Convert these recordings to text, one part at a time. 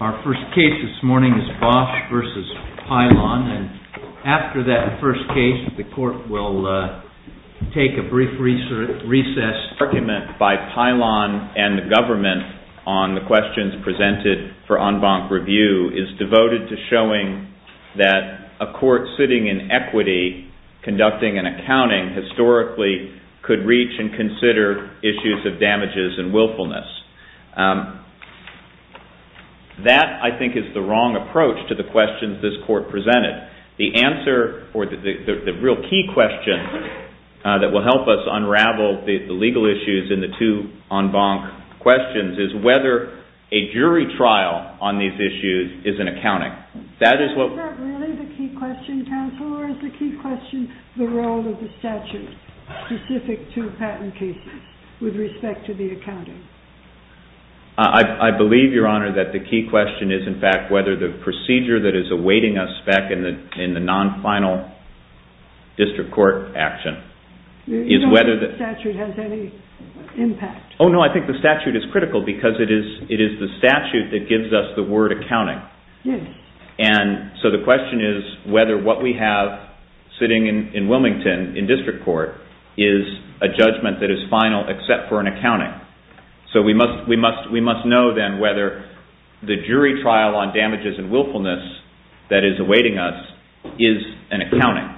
Our first case this morning is BOSCH v. PYLON, and after that first case, the Court will take a brief recess. This argument by Pylon and the government on the questions presented for en banc review is devoted to showing that a court sitting in equity conducting an accounting historically could reach and consider issues of damages and willfulness. That, I think, is the wrong approach to the questions this Court presented. The real key question that will help us unravel the legal issues in the two en banc questions is whether a jury trial on these issues is an accounting. Is that really the key question, counsel, or is the key question the role of the statute specific to patent cases with respect to the accounting? I believe, Your Honor, that the key question is, in fact, whether the procedure that is awaiting us back in the non-final district court action is whether the statute has any impact. Oh, no, I think the statute is critical because it is the statute that gives us the word accounting. And so the question is whether what we have sitting in Wilmington in district court is a judgment that is final except for an accounting. So we must know, then, whether the jury trial on damages and willfulness that is awaiting us is an accounting.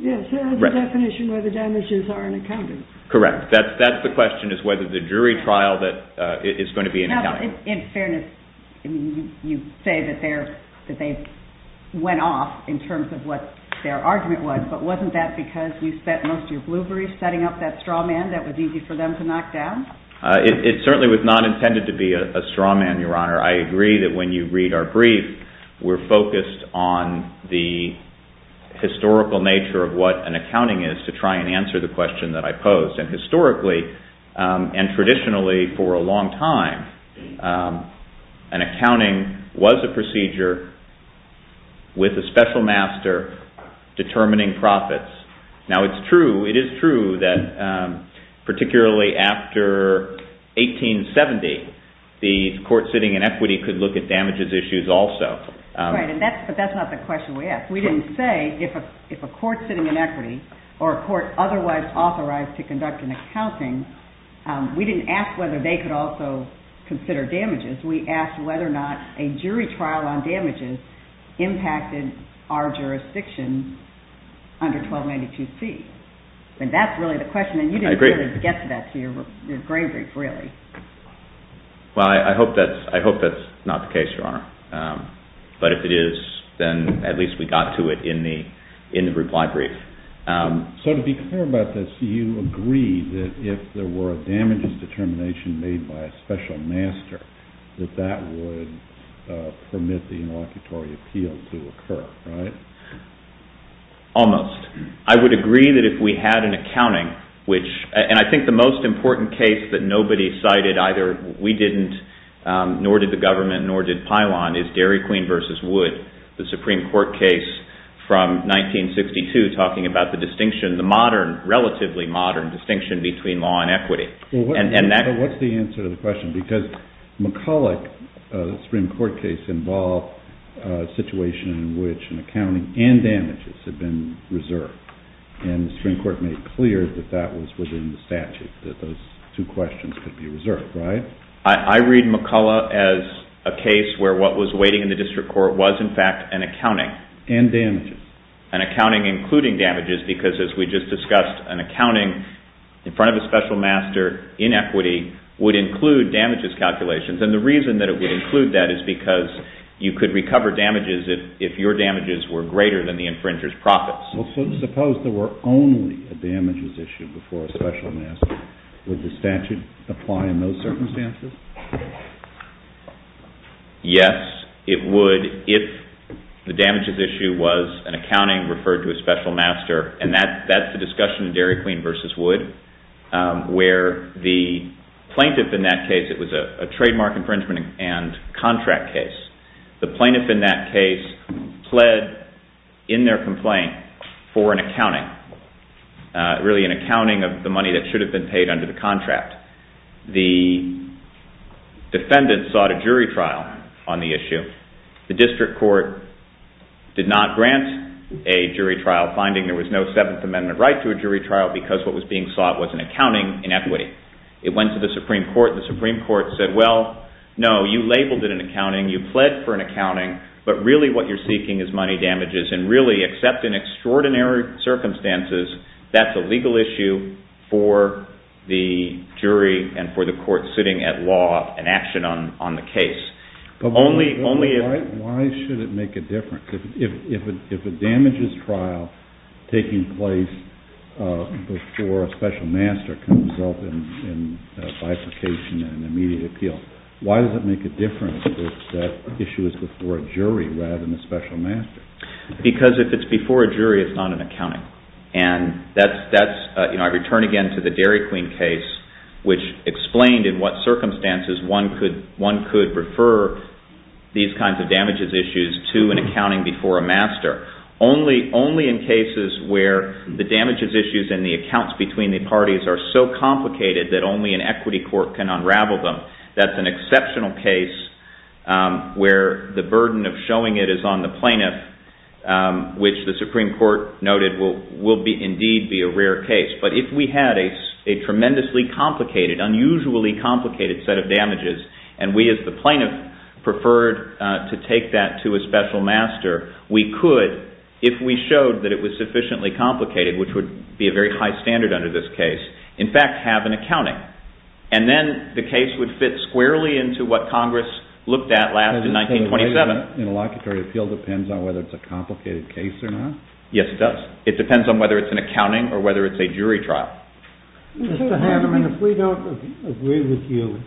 Yes, it has a definition where the damages are an accounting. Correct. That's the question, is whether the jury trial is going to be an accounting. Now, in fairness, you say that they went off in terms of what their argument was, but wasn't that because you spent most of your blueberries setting up that straw man that was easy for them to knock down? It certainly was not intended to be a straw man, Your Honor. I agree that when you read our brief, we're focused on the historical nature of what an accounting is to try and answer the question that I posed. And historically and traditionally for a long time, an accounting was a procedure with a special master determining profits. Now, it is true that particularly after 1870, the court sitting in equity could look at damages issues also. Right, but that's not the question we asked. We didn't say if a court sitting in equity or a court otherwise authorized to conduct an accounting, we didn't ask whether they could also consider damages. We asked whether or not a jury trial on damages impacted our jurisdiction under 1292C. And that's really the question. I agree. And you didn't get to that in your grain brief, really. Well, I hope that's not the case, Your Honor. But if it is, then at least we got to it in the reply brief. So to be clear about this, you agree that if there were a damages determination made by a special master, that that would permit the inlocutory appeal to occur, right? Almost. I would agree that if we had an accounting, which – and I think the most important case that nobody cited, either we didn't, nor did the government, nor did Pilon, is Dairy Queen v. Wood, the Supreme Court case from 1962 talking about the distinction, the modern, relatively modern distinction between law and equity. Well, what's the answer to the question? Because McCulloch's Supreme Court case involved a situation in which an accounting and damages had been reserved. And the Supreme Court made clear that that was within the statute, that those two questions could be reserved, right? I read McCulloch as a case where what was waiting in the district court was, in fact, an accounting. And damages. An accounting including damages, because as we just discussed, an accounting in front of a special master in equity would include damages calculations. And the reason that it would include that is because you could recover damages if your damages were greater than the infringer's profits. Well, suppose there were only a damages issue before a special master. Would the statute apply in those circumstances? Yes, it would if the damages issue was an accounting referred to a special master. And that's the discussion in Dairy Queen v. Wood where the plaintiff in that case, it was a trademark infringement and contract case. The plaintiff in that case pled in their complaint for an accounting, really an accounting of the money that should have been paid under the contract. The defendant sought a jury trial on the issue. The district court did not grant a jury trial finding. There was no Seventh Amendment right to a jury trial because what was being sought was an accounting in equity. It went to the Supreme Court. The Supreme Court said, well, no, you labeled it an accounting. You pled for an accounting, but really what you're seeking is money damages. And really, except in extraordinary circumstances, that's a legal issue for the jury and for the court sitting at law and action on the case. But why should it make a difference? If a damages trial taking place before a special master comes up in bifurcation and immediate appeal, why does it make a difference if that issue is before a jury rather than a special master? Because if it's before a jury, it's not an accounting. I return again to the Dairy Queen case, which explained in what circumstances one could refer these kinds of damages issues to an accounting before a master. Only in cases where the damages issues and the accounts between the parties are so complicated that only an equity court can unravel them. That's an exceptional case where the burden of showing it is on the plaintiff, which the Supreme Court noted will indeed be a rare case. But if we had a tremendously complicated, unusually complicated set of damages, and we as the plaintiff preferred to take that to a special master, we could, if we showed that it was sufficiently complicated, which would be a very high standard under this case, in fact, have an accounting. And then the case would fit squarely into what Congress looked at last in 1927. Interlocutory appeal depends on whether it's a complicated case or not? Yes, it does. It depends on whether it's an accounting or whether it's a jury trial. Mr. Handelman, if we don't agree with you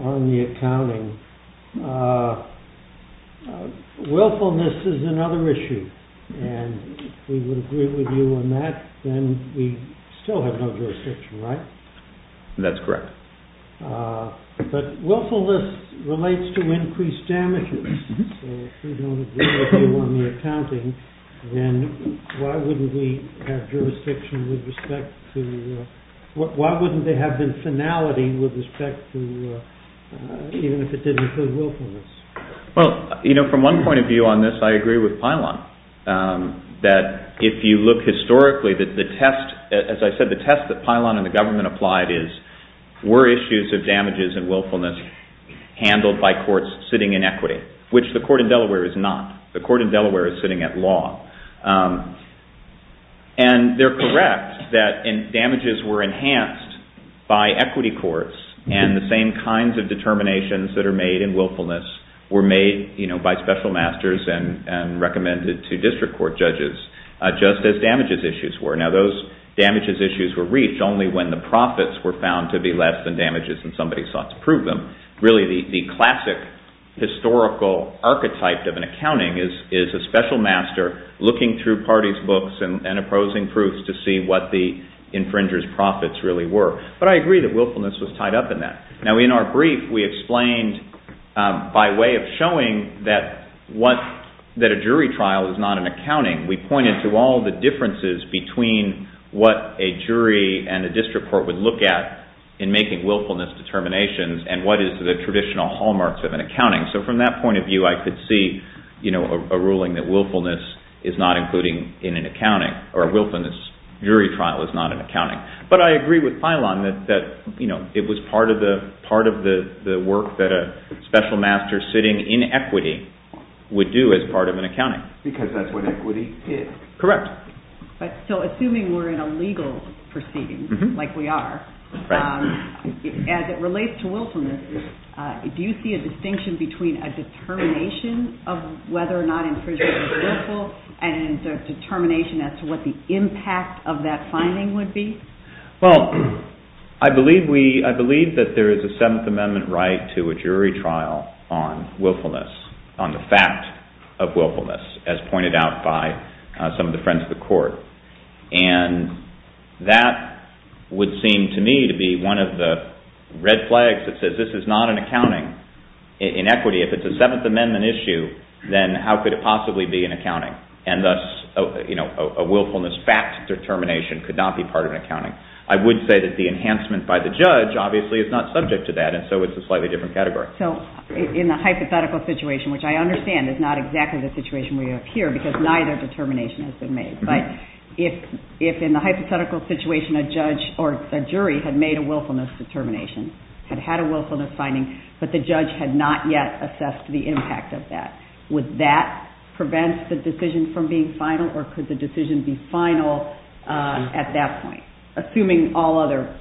on the accounting, willfulness is another issue. And if we would agree with you on that, then we still have no jurisdiction, right? That's correct. But willfulness relates to increased damages. So if we don't agree with you on the accounting, then why wouldn't we have jurisdiction with respect to, why wouldn't there have been finality with respect to, even if it didn't include willfulness? Well, you know, from one point of view on this, I agree with Pilon, that if you look historically, that the test, as I said, the test that Pilon and the government applied is, were issues of damages and willfulness handled by courts sitting in equity? Which the court in Delaware is not. The court in Delaware is sitting at law. And they're correct that damages were enhanced by equity courts, and the same kinds of determinations that are made in willfulness were made, you know, and recommended to district court judges, just as damages issues were. Now, those damages issues were reached only when the profits were found to be less than damages and somebody sought to prove them. Really, the classic historical archetype of an accounting is a special master looking through parties' books and opposing proofs to see what the infringer's profits really were. But I agree that willfulness was tied up in that. Now, in our brief, we explained, by way of showing that a jury trial is not an accounting, we pointed to all the differences between what a jury and a district court would look at in making willfulness determinations and what is the traditional hallmarks of an accounting. So, from that point of view, I could see, you know, a ruling that willfulness is not including in an accounting, or a willfulness jury trial is not an accounting. But I agree with Pilon that, you know, it was part of the work that a special master sitting in equity would do as part of an accounting. Because that's what equity is. Correct. So, assuming we're in a legal proceeding, like we are, as it relates to willfulness, do you see a distinction between a determination of whether or not infringers were willful and a determination as to what the impact of that finding would be? Well, I believe that there is a Seventh Amendment right to a jury trial on willfulness, on the fact of willfulness, as pointed out by some of the friends of the court. And that would seem to me to be one of the red flags that says this is not an accounting in equity. If it's a Seventh Amendment issue, then how could it possibly be an accounting? And thus, you know, a willfulness fact determination could not be part of an accounting. I would say that the enhancement by the judge obviously is not subject to that, and so it's a slightly different category. So, in the hypothetical situation, which I understand is not exactly the situation we have here, because neither determination has been made. But if in the hypothetical situation a judge or a jury had made a willfulness determination, had had a willfulness finding, but the judge had not yet assessed the impact of that, would that prevent the decision from being final, or could the decision be final at that point, assuming all other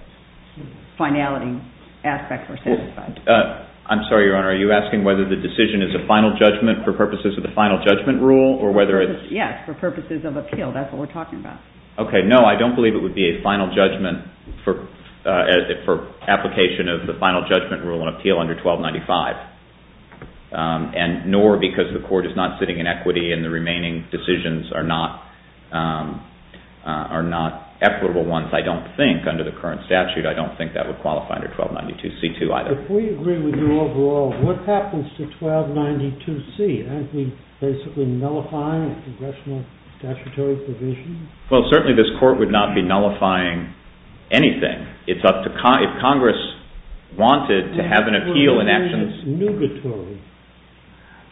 finality aspects are satisfied? I'm sorry, Your Honor. Are you asking whether the decision is a final judgment for purposes of the final judgment rule, or whether it's – Yes, for purposes of appeal. That's what we're talking about. Okay, no, I don't believe it would be a final judgment for application of the final judgment rule on appeal under 1295, nor because the court is not sitting in equity and the remaining decisions are not equitable ones, I don't think, under the current statute. I don't think that would qualify under 1292C too, either. If we agree with you overall, what happens to 1292C? Aren't we basically nullifying a congressional statutory provision? Well, certainly this court would not be nullifying anything. It's up to Congress. If Congress wanted to have an appeal in actions – That would be nougatory.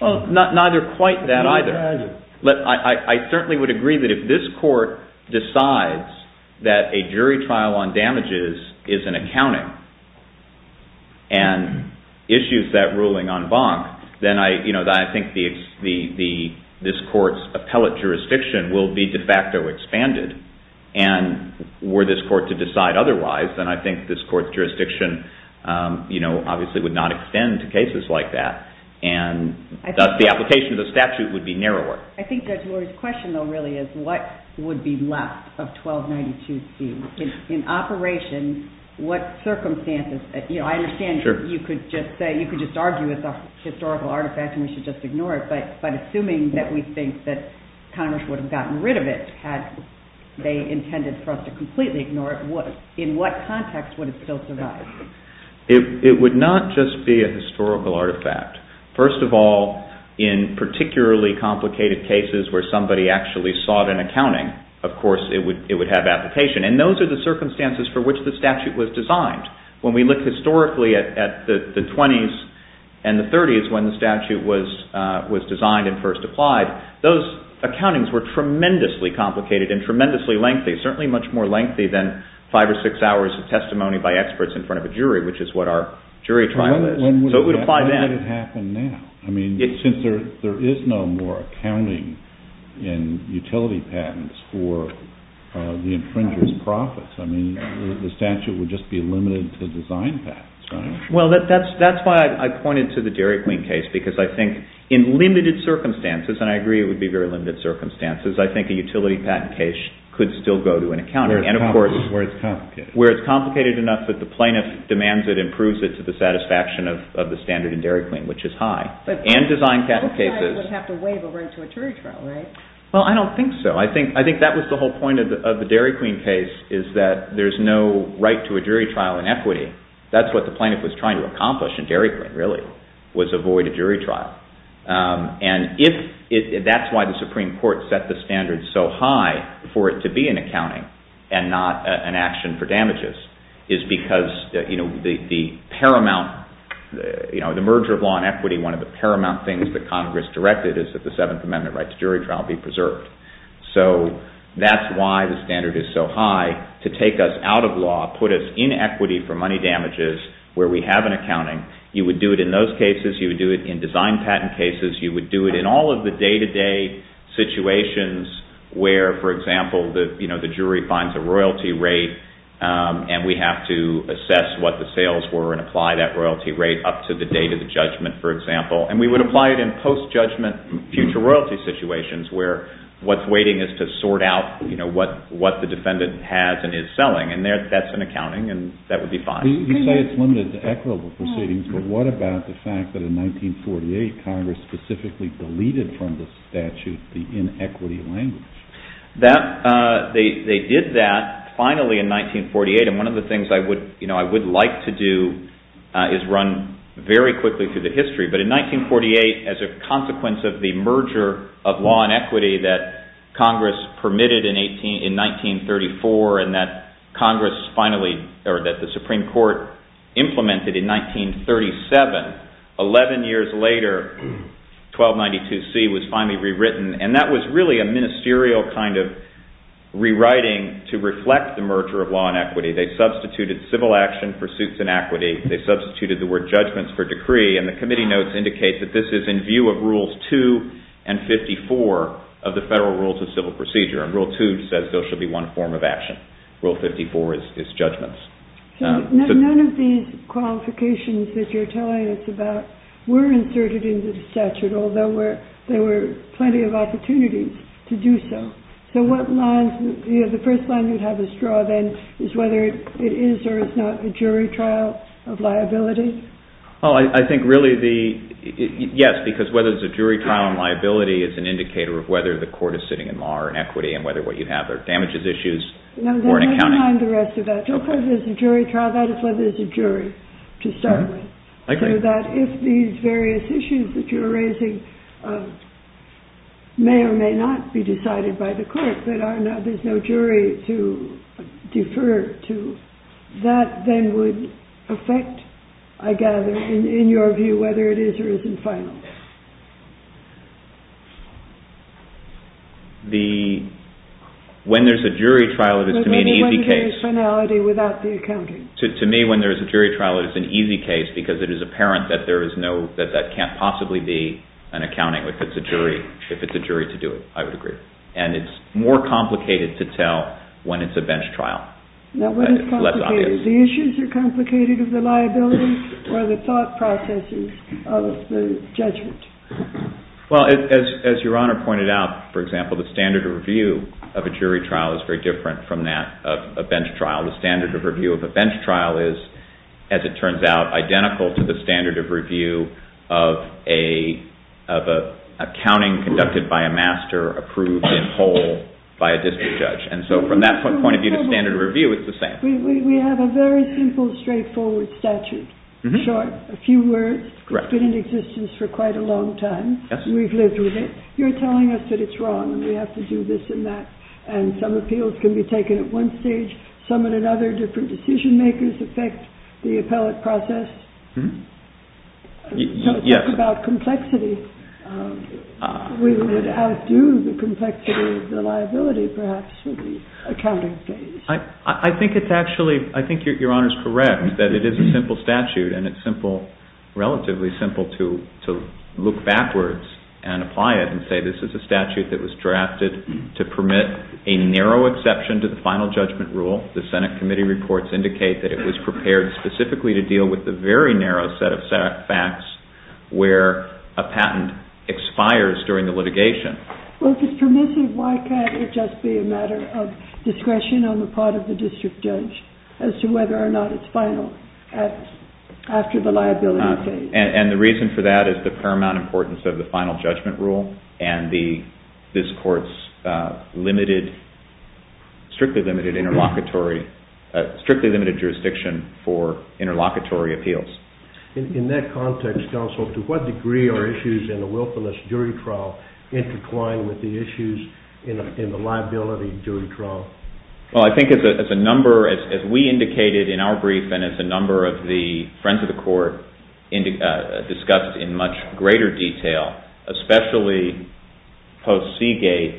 Well, neither quite that either. I certainly would agree that if this court decides that a jury trial on damages is an accounting and issues that ruling en banc, then I think this court's appellate jurisdiction will be de facto expanded. And were this court to decide otherwise, then I think this court's jurisdiction obviously would not extend to cases like that, and thus the application of the statute would be narrower. I think Judge Lurie's question, though, really, is what would be left of 1292C? In operation, what circumstances – I understand you could just argue it's a historical artifact and we should just ignore it, but assuming that we think that Congress would have gotten rid of it had they intended for us to completely ignore it, in what context would it still survive? It would not just be a historical artifact. First of all, in particularly complicated cases where somebody actually sought an accounting, of course it would have application. And those are the circumstances for which the statute was designed. When we look historically at the 20s and the 30s when the statute was designed and first applied, those accountings were tremendously complicated and tremendously lengthy, certainly much more lengthy than five or six hours of testimony by experts in front of a jury, which is what our jury trial is. So it would apply then. When would it happen now? I mean, since there is no more accounting in utility patents for the infringer's profits, I mean, the statute would just be limited to design patents, right? Well, that's why I pointed to the Dairy Queen case, because I think in limited circumstances, and I agree it would be very limited circumstances, I think a utility patent case could still go to an accountant. Where it's complicated. Where it's complicated enough that the plaintiff demands it and approves it to the satisfaction of the standard in Dairy Queen, which is high. And design patent cases. But the plaintiff would have to waive a right to a jury trial, right? Well, I don't think so. I think that was the whole point of the Dairy Queen case, is that there's no right to a jury trial in equity. That's what the plaintiff was trying to accomplish in Dairy Queen, really, was avoid a jury trial. And that's why the Supreme Court set the standard so high for it to be an accounting and not an action for damages, is because the paramount, you know, the merger of law and equity, one of the paramount things that Congress directed is that the Seventh Amendment right to jury trial be preserved. So that's why the standard is so high, to take us out of law, put us in equity for money damages, where we have an accounting. You would do it in those cases. You would do it in design patent cases. You would do it in all of the day-to-day situations where, for example, the jury finds a royalty rate and we have to assess what the sales were and apply that royalty rate up to the date of the judgment, for example. And we would apply it in post-judgment future royalty situations, where what's waiting is to sort out what the defendant has and is selling. And that's an accounting, and that would be fine. You say it's limited to equitable proceedings, but what about the fact that in 1948, Congress specifically deleted from the statute the inequity language? They did that finally in 1948, and one of the things I would like to do is run very quickly through the history. But in 1948, as a consequence of the merger of law and equity that Congress permitted in 1934 and that the Supreme Court implemented in 1937, 11 years later, 1292C was finally rewritten, and that was really a ministerial kind of rewriting to reflect the merger of law and equity. They substituted civil action for suits and equity. They substituted the word judgments for decree, and the committee notes indicate that this is in view of Rules 2 and 54 of the Federal Rules of Civil Procedure. Rule 2 says there should be one form of action. Rule 54 is judgments. None of these qualifications that you're telling us about were inserted into the statute, although there were plenty of opportunities to do so. So what lines, you know, the first line you'd have us draw then is whether it is or is not a jury trial of liability. Oh, I think really the, yes, because whether it's a jury trial of liability is an indicator of whether the court is sitting in law or equity. And whether what you have are damages issues or an accounting. No, then leave behind the rest of that. Don't call it a jury trial. That is whether it's a jury to start with. I agree. So that if these various issues that you're raising may or may not be decided by the court, but there's no jury to defer to, that then would affect, I gather, in your view, whether it is or isn't final. The, when there's a jury trial, it is to me an easy case. But then you wouldn't hear a finality without the accounting. To me, when there's a jury trial, it is an easy case because it is apparent that there is no, that that can't possibly be an accounting if it's a jury, if it's a jury to do it. I would agree. And it's more complicated to tell when it's a bench trial. Now, when it's complicated, the issues are complicated of the liability or the thought processes of the judges. Well, as Your Honor pointed out, for example, the standard of review of a jury trial is very different from that of a bench trial. The standard of review of a bench trial is, as it turns out, identical to the standard of review of an accounting conducted by a master approved in whole by a district judge. And so from that point of view, the standard of review is the same. We have a very simple, straightforward statute. Short, a few words. Correct. It's been in existence for quite a long time. Yes. We've lived with it. You're telling us that it's wrong and we have to do this and that. And some appeals can be taken at one stage, some at another. Different decision makers affect the appellate process. Yes. So it's about complexity. We would outdo the complexity of the liability, perhaps, for the accounting phase. I think it's actually, I think Your Honor's correct that it is a simple statute and it's relatively simple to look backwards and apply it and say this is a statute that was drafted to permit a narrow exception to the final judgment rule. The Senate committee reports indicate that it was prepared specifically to deal with the very narrow set of facts where a patent expires during the litigation. Well, if it's permissive, why can't it just be a matter of discretion on the part of the district judge as to whether or not it's final after the liability phase? And the reason for that is the paramount importance of the final judgment rule and this Court's strictly limited jurisdiction for interlocutory appeals. In that context, counsel, to what degree are issues in a willfulness jury trial intertwined with the issues in the liability jury trial? Well, I think as a number, as we indicated in our brief and as a number of the friends of the Court discussed in much greater detail, especially post-Seagate,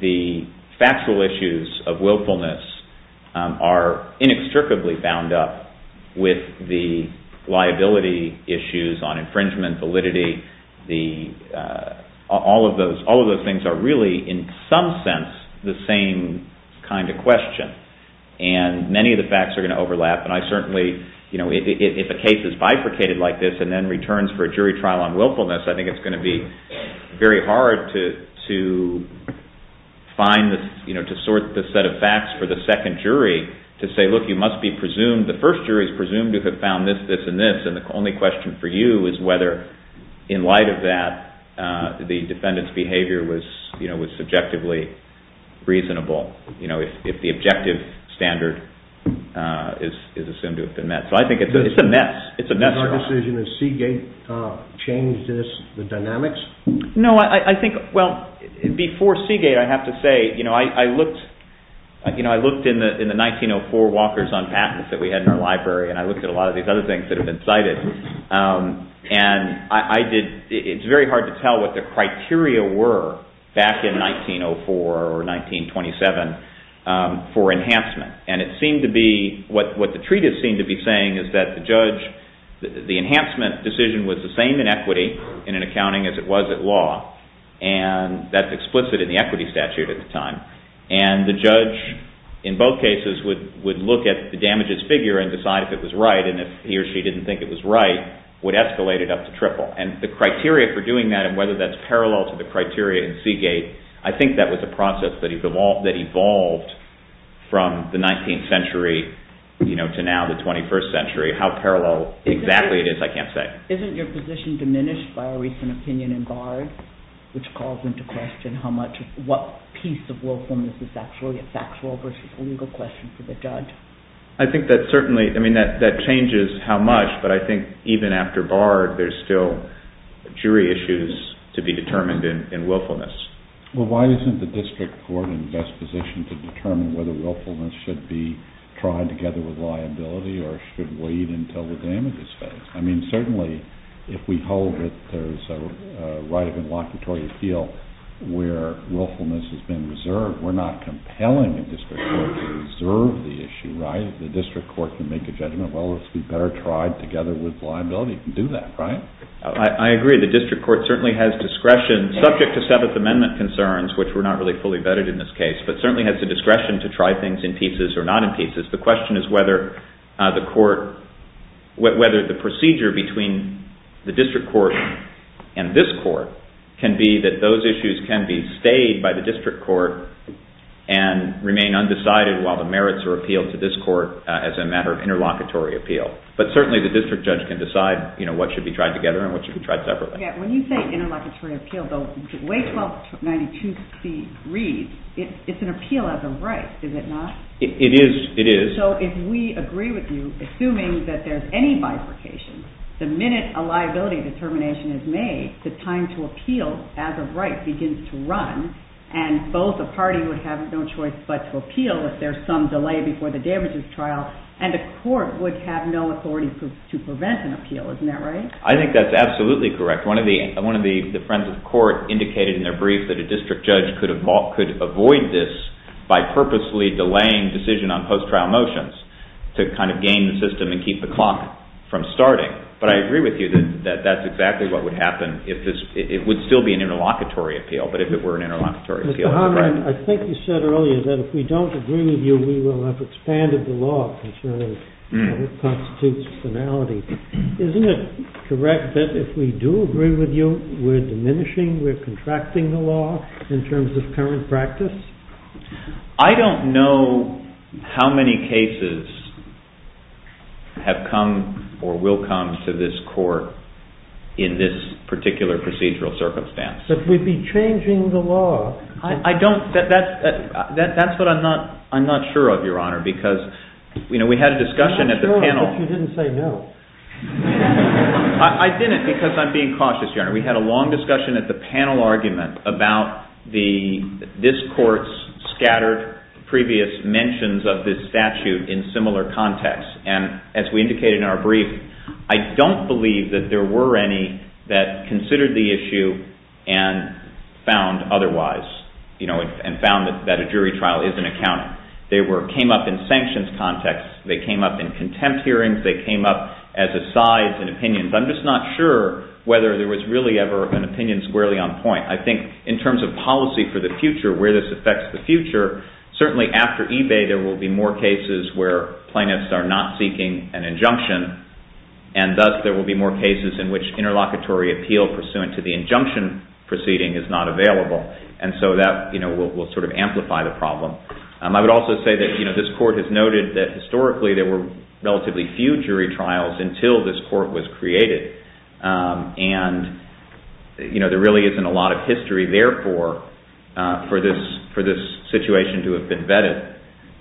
the factual issues of willfulness are inextricably bound up with the liability issues on infringement validity. All of those things are really in some sense the same kind of question and many of the facts are going to overlap and I certainly, you know, if a case is bifurcated like this and then returns for a jury trial on willfulness, I think it's going to be very hard to sort the set of facts for the second jury to say, look, you must be presumed, the first jury is presumed to have found this, this and this and the only question for you is whether, in light of that, the defendant's behavior was subjectively reasonable, you know, if the objective standard is assumed to have been met. So I think it's a mess. It's a mess. In your decision, has Seagate changed the dynamics? No, I think, well, before Seagate, I have to say, you know, I looked in the 1904 walkers on patents that we had in our library and I looked at a lot of these other things that have been cited and I did, it's very hard to tell what the criteria were back in 1904 or 1927 for enhancement and it seemed to be, what the treatise seemed to be saying is that the judge, the enhancement decision was the same in equity in an accounting as it was at law and that's explicit in the equity statute at the time and the judge in both cases would look at the damages figure and decide if it was right and if he or she didn't think it was right, would escalate it up to triple and the criteria for doing that and whether that's parallel to the criteria in Seagate, I think that was a process that evolved from the 19th century, you know, to now the 21st century, how parallel exactly it is, I can't say. Isn't your position diminished by a recent opinion in Bard which calls into question what piece of willfulness is actually a factual versus legal question for the judge? I think that certainly, I mean, that changes how much, but I think even after Bard, there's still jury issues to be determined in willfulness. Well, why isn't the district court in the best position to determine whether willfulness should be tried together with liability or should wait until the damage is fair? I mean, certainly if we hold that there's a right of inlocutory appeal where willfulness has been reserved, we're not compelling the district court to reserve the issue, right? The district court can make a judgment, well, let's be better tried together with liability. It can do that, right? I agree. The district court certainly has discretion, subject to Seventh Amendment concerns, which were not really fully vetted in this case, but certainly has the discretion to try things in pieces or not in pieces. The question is whether the court, whether the procedure between the district court and this court can be that those issues can be stayed by the district court and remain undecided while the merits are appealed to this court as a matter of interlocutory appeal. But certainly the district judge can decide what should be tried together and what should be tried separately. When you say interlocutory appeal, the way 1292C reads, it's an appeal as a right, is it not? It is. So if we agree with you, assuming that there's any bifurcation, the minute a liability determination is made, the time to appeal as a right begins to run and both the party would have no choice but to appeal if there's some delay before the damages trial and the court would have no authority to prevent an appeal. Isn't that right? I think that's absolutely correct. One of the friends of the court indicated in their brief that a district judge could avoid this by purposely delaying decision on post-trial motions to kind of gain the system and keep the clock from starting. But I agree with you that that's exactly what would happen if this, it would still be an interlocutory appeal, but if it were an interlocutory appeal. Mr. Harmon, I think you said earlier that if we don't agree with you, we will have expanded the law concerning how it constitutes finality. Isn't it correct that if we do agree with you, we're diminishing, we're contracting the law in terms of current practice? I don't know how many cases have come or will come to this court in this particular procedural circumstance. But we'd be changing the law. I don't, that's what I'm not sure of, Your Honor, because we had a discussion at the panel. I'm not sure that you didn't say no. I didn't because I'm being cautious, Your Honor. We had a long discussion at the panel argument about this court's scattered previous mentions of this statute in similar contexts. And as we indicated in our brief, I don't believe that there were any that considered the issue and found otherwise, and found that a jury trial isn't accounting. They came up in sanctions contexts. They came up in contempt hearings. They came up as asides and opinions. I'm just not sure whether there was really ever an opinion squarely on point. I think in terms of policy for the future, where this affects the future, certainly after eBay, there will be more cases where plaintiffs are not seeking an injunction, and thus there will be more cases in which interlocutory appeal pursuant to the injunction proceeding is not available. I would also say that this court has noted that historically there were relatively few jury trials until this court was created. And there really isn't a lot of history, therefore, for this situation to have been vetted.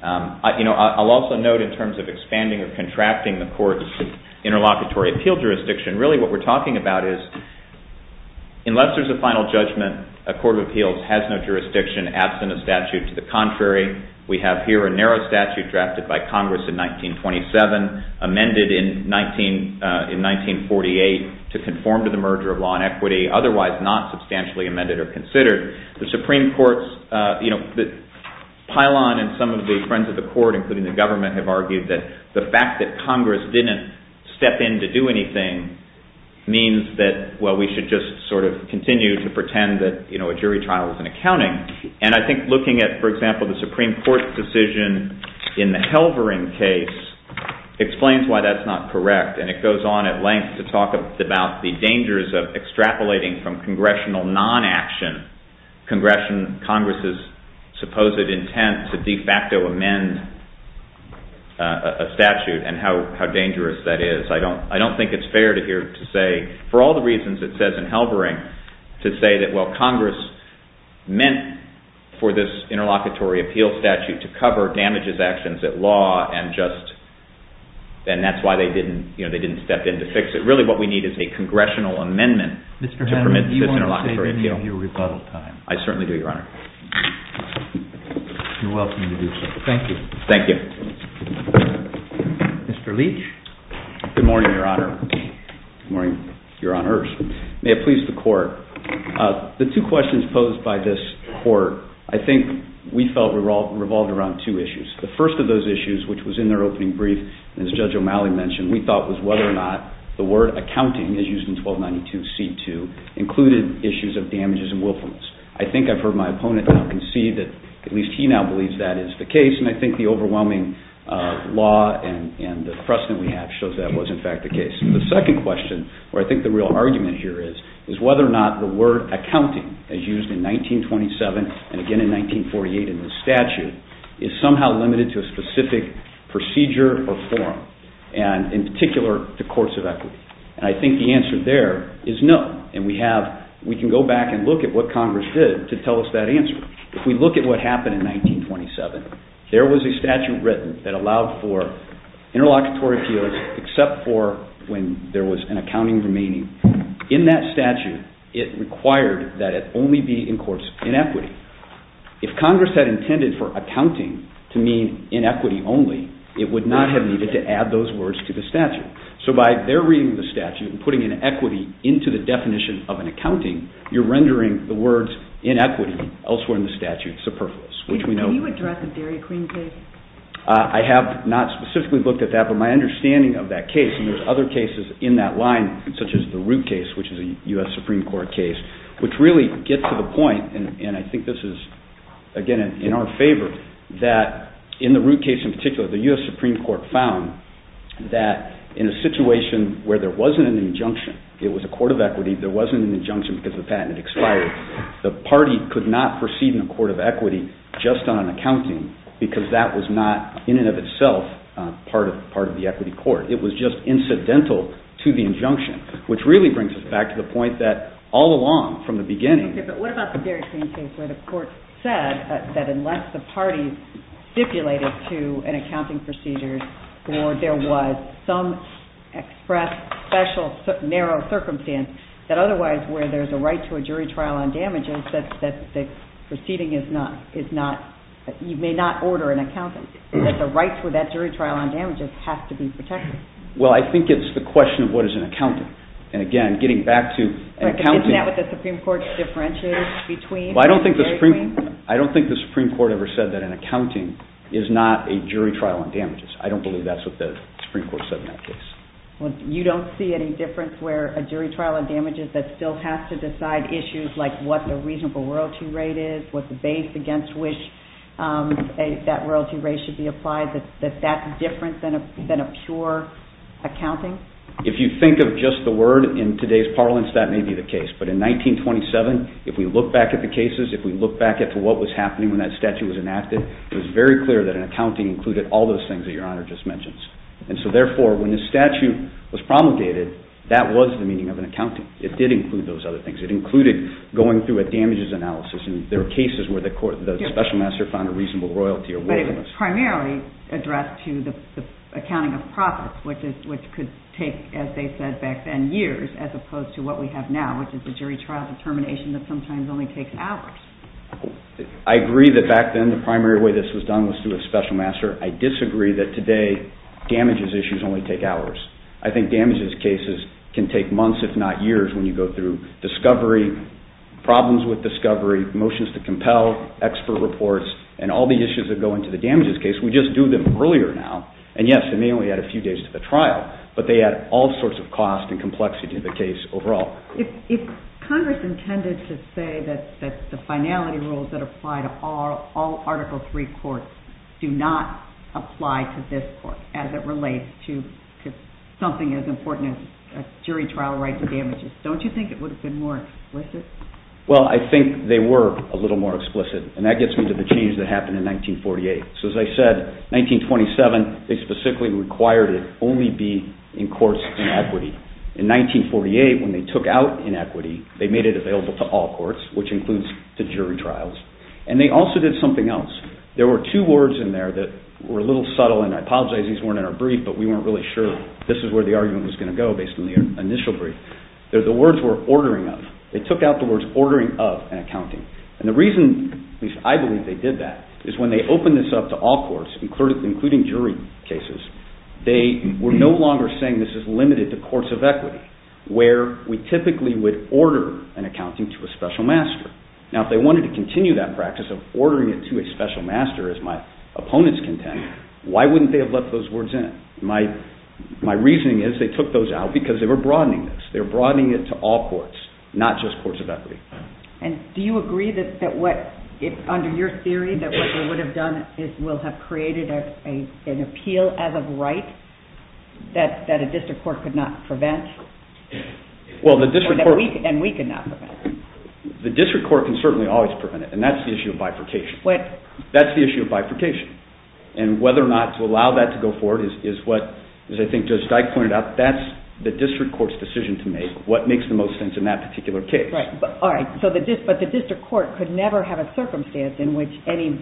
I'll also note in terms of expanding or contracting the court's interlocutory appeal jurisdiction, really what we're talking about is unless there's a final judgment, a court of appeals has no jurisdiction absent a statute to the contrary. We have here a narrow statute drafted by Congress in 1927, amended in 1948 to conform to the merger of law and equity, otherwise not substantially amended or considered. The Supreme Court's pylon and some of the friends of the court, including the government, have argued that the fact that Congress didn't step in to do anything means that, well, we should just sort of continue to pretend that a jury trial is an accounting. And I think looking at, for example, the Supreme Court's decision in the Helvering case explains why that's not correct. And it goes on at length to talk about the dangers of extrapolating from congressional non-action, Congress's supposed intent to de facto amend a statute and how dangerous that is. I don't think it's fair to here to say, for all the reasons it says in Helvering, to say that, well, Congress meant for this interlocutory appeal statute to cover damages actions at law, and that's why they didn't step in to fix it. Really what we need is a congressional amendment to permit this interlocutory appeal. Mr. Hanlon, do you want to save any of your rebuttal time? I certainly do, Your Honor. You're welcome to do so. Thank you. Thank you. Mr. Leach. Good morning, Your Honor. Good morning, Your Honors. May it please the Court. The two questions posed by this Court I think we felt revolved around two issues. The first of those issues, which was in their opening brief, as Judge O'Malley mentioned, we thought was whether or not the word accounting, as used in 1292c2, included issues of damages and willfulness. I think I've heard my opponent now concede that at least he now believes that is the case, and I think the overwhelming law and the precedent we have shows that was in fact the case. The second question, where I think the real argument here is, is whether or not the word accounting, as used in 1927 and again in 1948 in this statute, is somehow limited to a specific procedure or form, and in particular the courts of equity. I think the answer there is no, and we can go back and look at what Congress did to tell us that answer. If we look at what happened in 1927, there was a statute written that allowed for interlocutory appeals except for when there was an accounting remaining. In that statute, it required that it only be in courts in equity. If Congress had intended for accounting to mean in equity only, it would not have needed to add those words to the statute. So by their reading of the statute and putting in equity into the definition of an accounting, you're rendering the words in equity elsewhere in the statute superfluous. Can you address the Dairy Queen case? I have not specifically looked at that, but my understanding of that case, and there's other cases in that line such as the Root case, which is a U.S. Supreme Court case, which really gets to the point, and I think this is again in our favor, that in the Root case in particular, the U.S. Supreme Court found that in a situation where there wasn't an injunction, it was a court of equity, there wasn't an injunction because the patent had expired, the party could not proceed in a court of equity just on an accounting because that was not in and of itself part of the equity court. It was just incidental to the injunction, which really brings us back to the point that all along from the beginning... Okay, but what about the Dairy Queen case where the court said that unless the party stipulated to an accounting procedure or there was some express, special, narrow circumstance, that otherwise where there's a right to a jury trial on damages, that the proceeding is not, you may not order an accounting. That the rights with that jury trial on damages have to be protected. Well, I think it's the question of what is an accounting. And again, getting back to accounting... Isn't that what the Supreme Court differentiated between? Well, I don't think the Supreme Court ever said that an accounting is not a jury trial on damages. I don't believe that's what the Supreme Court said in that case. You don't see any difference where a jury trial on damages that still has to decide issues like what the reasonable royalty rate is, what the base against which that royalty rate should be applied, that that's different than a pure accounting? If you think of just the word in today's parlance, that may be the case. But in 1927, if we look back at the cases, if we look back at what was happening when that statute was enacted, it was very clear that an accounting included all those things that Your Honor just mentioned. And so therefore, when the statute was promulgated, that was the meaning of an accounting. It did include those other things. It included going through a damages analysis, and there were cases where the special master found a reasonable royalty or worthiness. But it was primarily addressed to the accounting of profits, which could take, as they said back then, years, as opposed to what we have now, which is the jury trial determination that sometimes only takes hours. I agree that back then the primary way this was done was through a special master. I disagree that today damages issues only take hours. I think damages cases can take months, if not years, when you go through discovery, problems with discovery, motions to compel, expert reports, and all the issues that go into the damages case. We just do them earlier now. And yes, it may only add a few days to the trial, but they add all sorts of cost and complexity to the case overall. If Congress intended to say that the finality rules that apply to all Article III courts do not apply to this court as it relates to something as important as jury trial rights and damages, don't you think it would have been more explicit? Well, I think they were a little more explicit, and that gets me to the change that happened in 1948. So as I said, 1927, they specifically required it only be in courts in equity. In 1948, when they took out inequity, they made it available to all courts, which includes the jury trials. And they also did something else. There were two words in there that were a little subtle, and I apologize these weren't in our brief, but we weren't really sure this is where the argument was going to go based on the initial brief. The words were ordering of. They took out the words ordering of and accounting. And the reason, at least I believe they did that, is when they opened this up to all courts, including jury cases, they were no longer saying this is limited to courts of equity, where we typically would order an accounting to a special master. Now, if they wanted to continue that practice of ordering it to a special master, as my opponents contend, why wouldn't they have let those words in? My reasoning is they took those out because they were broadening this. They were broadening it to all courts, not just courts of equity. And do you agree that what, under your theory, that what they would have done is will have created an appeal as of right that a district court could not prevent? Well, the district court... And we could not prevent. The district court can certainly always prevent it, and that's the issue of bifurcation. That's the issue of bifurcation. And whether or not to allow that to go forward is what, as I think Judge Dyke pointed out, that's the district court's decision to make, what makes the most sense in that particular case. Right. All right. But the district court could never have a circumstance in which any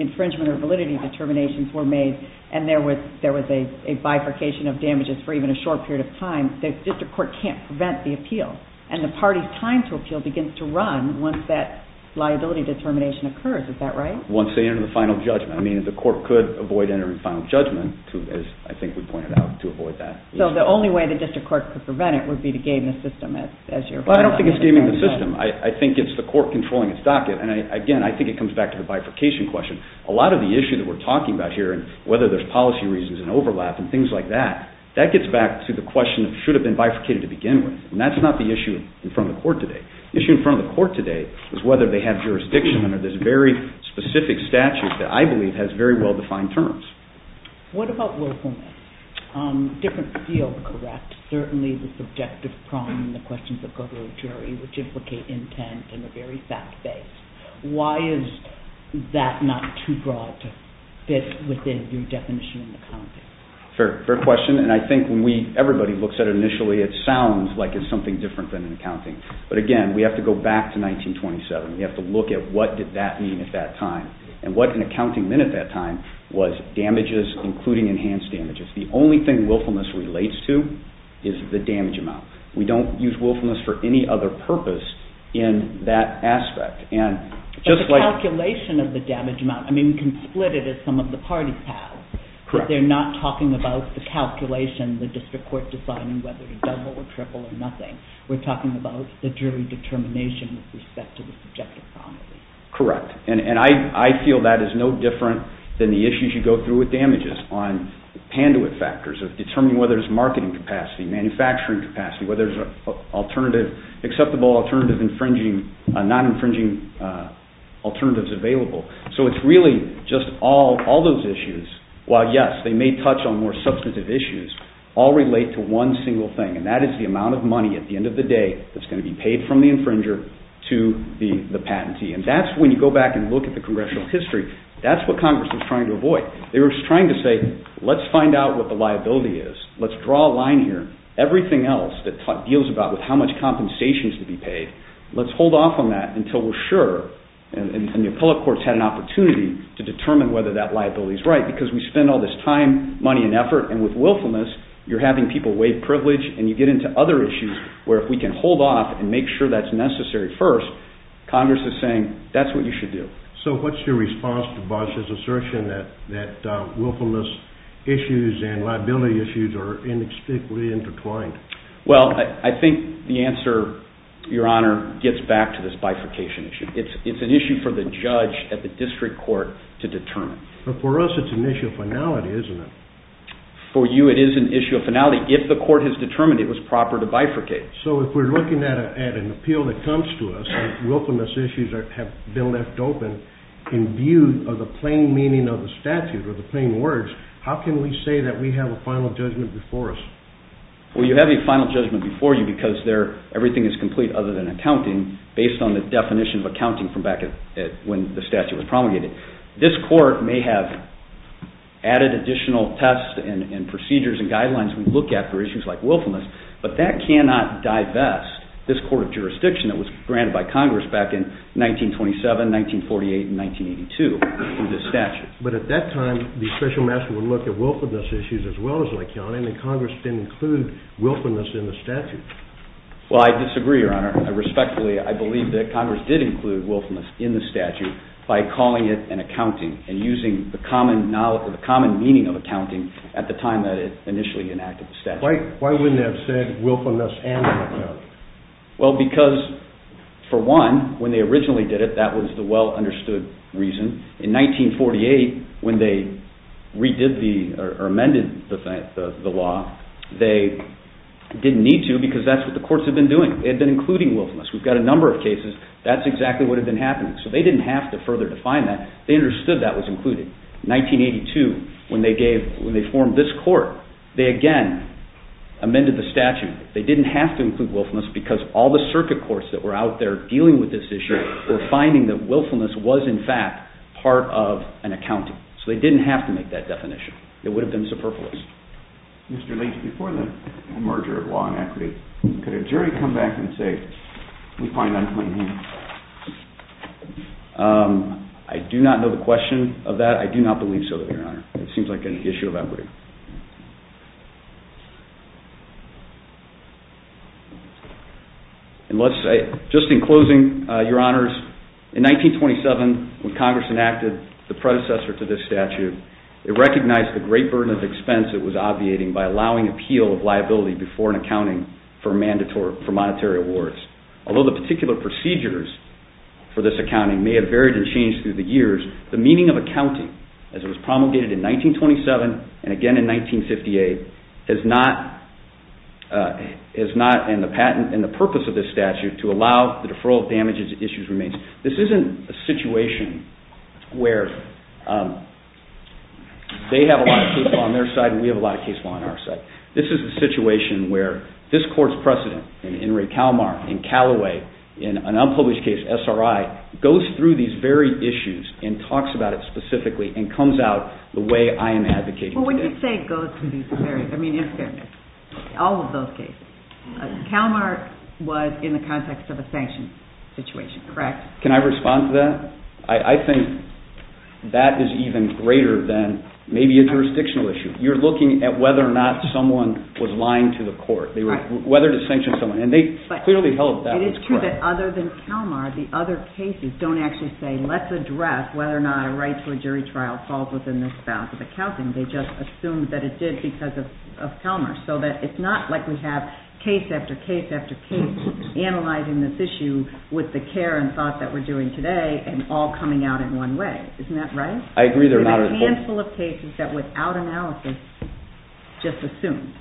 infringement or validity determinations were made and there was a bifurcation of damages for even a short period of time. The district court can't prevent the appeal. And the party's time to appeal begins to run once that liability determination occurs. Is that right? Once they enter the final judgment. I mean, the court could avoid entering final judgment, as I think we pointed out, to avoid that. So the only way the district court could prevent it would be to game the system as you're... Well, I don't think it's gaming the system. I think it's the court controlling its docket. And, again, I think it comes back to the bifurcation question. A lot of the issues that we're talking about here, whether there's policy reasons and overlap and things like that, that gets back to the question of should it have been bifurcated to begin with. And that's not the issue in front of the court today. The issue in front of the court today is whether they have jurisdiction under this very specific statute that I believe has very well-defined terms. What about willfulness? Different field, correct? Certainly the subjective problem, the questions that go to a jury, which implicate intent and a very fact-based. Why is that not too broad to fit within your definition in the context? Fair question. And I think when everybody looks at it initially, it sounds like it's something different than an accounting. But, again, we have to go back to 1927. We have to look at what did that mean at that time and what an accounting meant at that time was damages, including enhanced damages. The only thing willfulness relates to is the damage amount. We don't use willfulness for any other purpose in that aspect. But the calculation of the damage amount, I mean, we can split it as some of the parties have. But they're not talking about the calculation, the district court deciding whether to double or triple or nothing. We're talking about the jury determination with respect to the subjective problem. Correct. And I feel that is no different than the issues you go through with damages on panduit factors, of determining whether there's marketing capacity, manufacturing capacity, whether there's acceptable alternative infringing, non-infringing alternatives available. So it's really just all those issues, while, yes, they may touch on more substantive issues, all relate to one single thing, and that is the amount of money at the end of the day that's going to be paid from the infringer to the patentee. And that's when you go back and look at the congressional history. That's what Congress was trying to avoid. They were trying to say, let's find out what the liability is. Let's draw a line here. Everything else that deals about with how much compensation is to be paid, let's hold off on that until we're sure. And the appellate courts had an opportunity to determine whether that liability is right because we spend all this time, money, and effort, and with willfulness, you're having people waive privilege and you get into other issues where if we can hold off and make sure that's necessary first, Congress is saying that's what you should do. So what's your response to Bosch's assertion that willfulness issues and liability issues are inextricably intertwined? Well, I think the answer, Your Honor, gets back to this bifurcation issue. It's an issue for the judge at the district court to determine. But for us it's an issue of finality, isn't it? For you it is an issue of finality. If the court has determined it was proper to bifurcate. So if we're looking at an appeal that comes to us and willfulness issues have been left open in view of the plain meaning of the statute or the plain words, how can we say that we have a final judgment before us? Well, you have a final judgment before you because everything is complete other than accounting based on the definition of accounting from back when the statute was promulgated. This court may have added additional tests and procedures and guidelines we look at for issues like willfulness, but that cannot divest this court of jurisdiction that was granted by Congress back in 1927, 1948, and 1982 through this statute. But at that time the special master would look at willfulness issues as well, and Congress didn't include willfulness in the statute. Well, I disagree, Your Honor. Respectfully, I believe that Congress did include willfulness in the statute by calling it an accounting and using the common meaning of accounting at the time that it initially enacted the statute. Why wouldn't they have said willfulness and an accounting? Well, because for one, when they originally did it, that was the well-understood reason. In 1948, when they redid or amended the law, they didn't need to because that's what the courts had been doing. They had been including willfulness. We've got a number of cases. That's exactly what had been happening. So they didn't have to further define that. They understood that was included. In 1982, when they formed this court, they again amended the statute. They didn't have to include willfulness because all the circuit courts that were out there dealing with this issue were finding that willfulness was, in fact, part of an accounting. So they didn't have to make that definition. It would have been superfluous. Mr. Leach, before the merger of law and equity, could a jury come back and say we find unpleasant? I do not know the question of that. I do not believe so, Your Honor. It seems like an issue of equity. Just in closing, Your Honors, in 1927, when Congress enacted the predecessor to this statute, it recognized the great burden of expense it was obviating by allowing appeal of liability before an accounting for monetary awards. Although the particular procedures for this accounting may have varied and changed through the years, the meaning of accounting, as it was promulgated in 1927 and again in 1958, is not in the patent and the purpose of this statute to allow the deferral of damages if the issue remains. This isn't a situation where they have a lot of case law on their side and we have a lot of case law on our side. This is a situation where this Court's precedent in Ray Kalmar, in Callaway, in an unpublished case, SRI, goes through these very issues and talks about it specifically and comes out the way I am advocating today. Well, wouldn't you say it goes through all of those cases? Kalmar was in the context of a sanction situation, correct? Can I respond to that? I think that is even greater than maybe a jurisdictional issue. You're looking at whether or not someone was lying to the Court, whether to sanction someone, and they clearly held that as correct. It is true that other than Kalmar, the other cases don't actually say, let's address whether or not a right to a jury trial falls within this bound of accounting. They just assume that it did because of Kalmar. So it's not like we have case after case after case analyzing this issue with the care and thought that we're doing today and all coming out in one way. Isn't that right? I agree. There are a handful of cases that without analysis just assumed.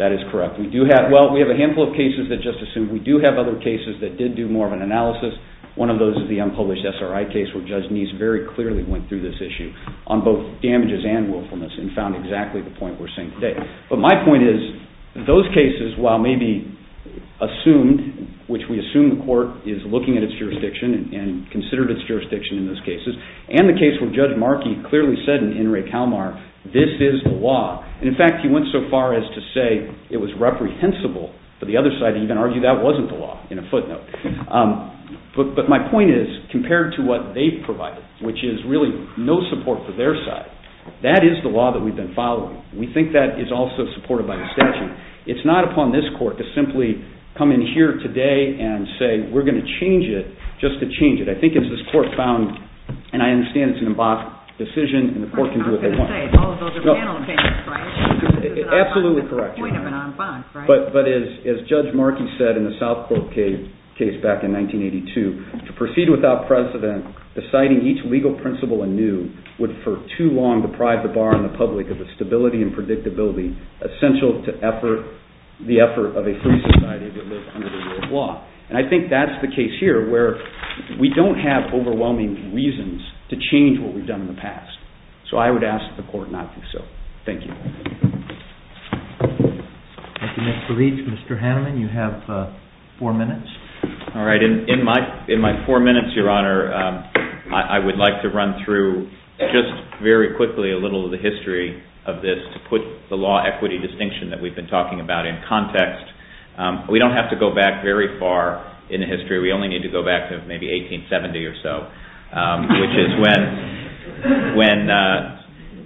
That is correct. Well, we have a handful of cases that just assumed. We do have other cases that did do more of an analysis. One of those is the unpublished SRI case where Judge Nese very clearly went through this issue on both damages and willfulness and found exactly the point we're seeing today. But my point is, those cases, while maybe assumed, which we assume the Court is looking at its jurisdiction and considered its jurisdiction in those cases, and the case where Judge Markey clearly said in Ray Kalmar, this is the law. In fact, he went so far as to say it was reprehensible for the other side to even argue that wasn't the law, in a footnote. But my point is, compared to what they've provided, which is really no support for their side, that is the law that we've been following. We think that is also supported by the statute. It's not upon this Court to simply come in here today and say we're going to change it just to change it. I think it's this Court found, and I understand it's an embossed decision, and the Court can do what they want. I was going to say, all of those are panel cases, right? Absolutely correct. It's the point of an emboss, right? But as Judge Markey said in the Southbrooke case back in 1982, to proceed without precedent, deciding each legal principle anew would for too long deprive the bar on the public of the stability and predictability essential to the effort of a free society that lives under the rule of law. And I think that's the case here, where we don't have overwhelming reasons to change what we've done in the past. So I would ask that the Court not do so. Thank you. Mr. Leach, Mr. Haneman, you have four minutes. All right. In my four minutes, Your Honor, I would like to run through just very quickly a little of the history of this to put the law equity distinction that we've been talking about in context. We don't have to go back very far in history. We only need to go back to maybe 1870 or so, which is when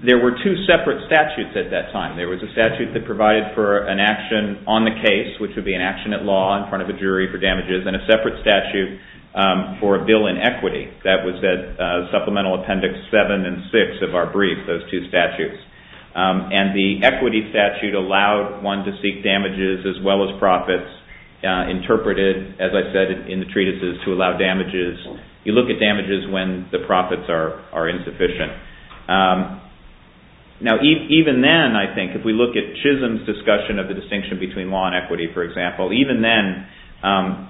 there were two separate statutes at that time. There was a statute that provided for an action on the case, which would be an action at law in front of a jury for damages, and a separate statute for a bill in equity. That was Supplemental Appendix 7 and 6 of our brief, those two statutes. And the equity statute allowed one to seek damages as well as profits, interpreted, as I said, in the treatises, to allow damages. You look at damages when the profits are insufficient. Now, even then, I think, if we look at Chisholm's discussion of the distinction between law and equity, for example, even then,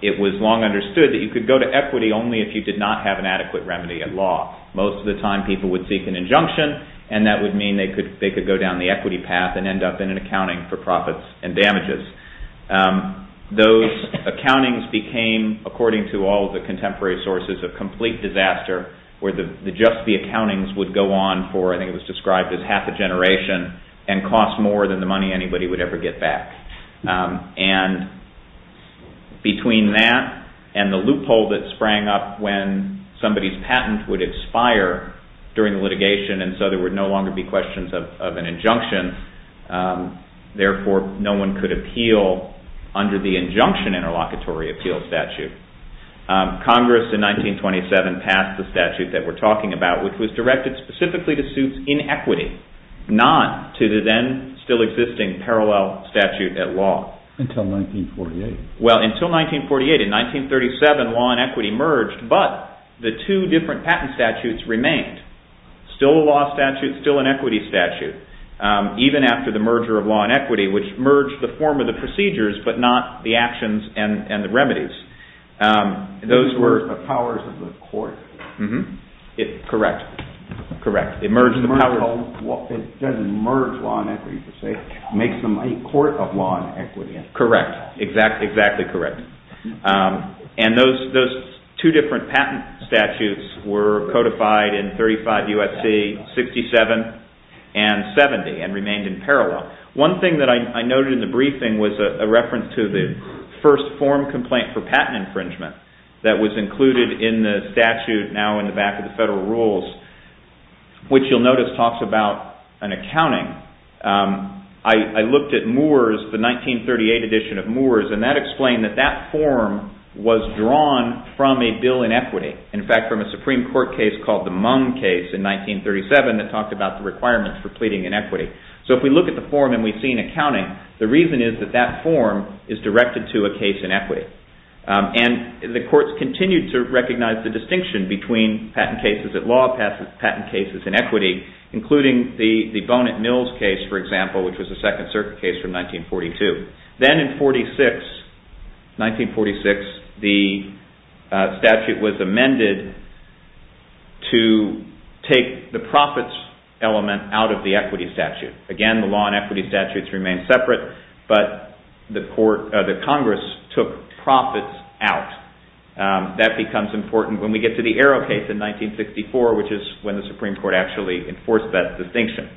it was long understood that you could go to equity only if you did not have an adequate remedy at law. Most of the time, people would seek an injunction, and that would mean they could go down the equity path and end up in an accounting for profits and damages. Those accountings became, according to all of the contemporary sources, a complete disaster, where just the accountings would go on for, I think it was described as half a generation, and cost more than the money anybody would ever get back. And between that and the loophole that sprang up when somebody's patent would expire during litigation, and so there would no longer be questions of an injunction, therefore, no one could appeal under the injunction interlocutory appeal statute. Congress in 1927 passed the statute that we're talking about, which was directed specifically to suit inequity, not to the then still existing parallel statute at law. Until 1948. Well, until 1948. In 1937, law and equity merged, but the two different patent statutes remained. Still a law statute, still an equity statute, even after the merger of law and equity, which merged the form of the procedures, but not the actions and the remedies. These were the powers of the court. Correct. It doesn't merge law and equity per se, it makes them a court of law and equity. Correct. Exactly correct. And those two different patent statutes were codified in 35 U.S.C., 67, and 70, and remained in parallel. One thing that I noted in the briefing was a reference to the first form complaint for patent infringement that was included in the statute now in the back of the federal rules, which you'll notice talks about an accounting. I looked at Moore's, the 1938 edition of Moore's, and that explained that that form was drawn from a bill in equity. In fact, from a Supreme Court case called the Mung case in 1937 that talked about the requirements for pleading in equity. So if we look at the form and we see an accounting, the reason is that that form is directed to a case in equity. And the courts continued to recognize the distinction between patent cases at law, patent cases in equity, including the Bonnet-Mills case, for example, which was a Second Circuit case from 1942. Then in 1946, the statute was amended to take the profits element out of the equity statute. Again, the law and equity statutes remain separate, but the Congress took profits out. That becomes important when we get to the Arrow case in 1964, which is when the Supreme Court actually enforced that distinction.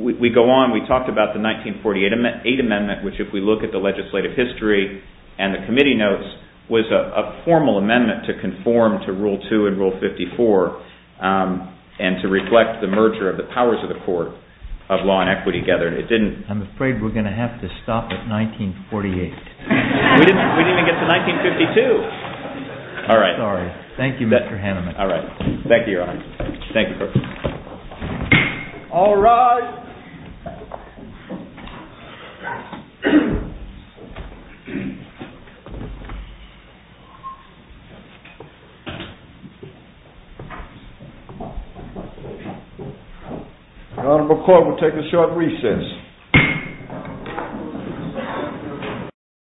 We go on. We talked about the 1948 amendment, which if we look at the legislative history and the committee notes, was a formal amendment to conform to Rule 2 and Rule 54 and to reflect the merger of the powers of the court of law and equity together. I'm afraid we're going to have to stop at 1948. We didn't even get to 1952. All right. Sorry. Thank you, Mr. Haneman. All right. Thank you, Your Honor. Thank you. All rise. The Honorable Court will take a short recess.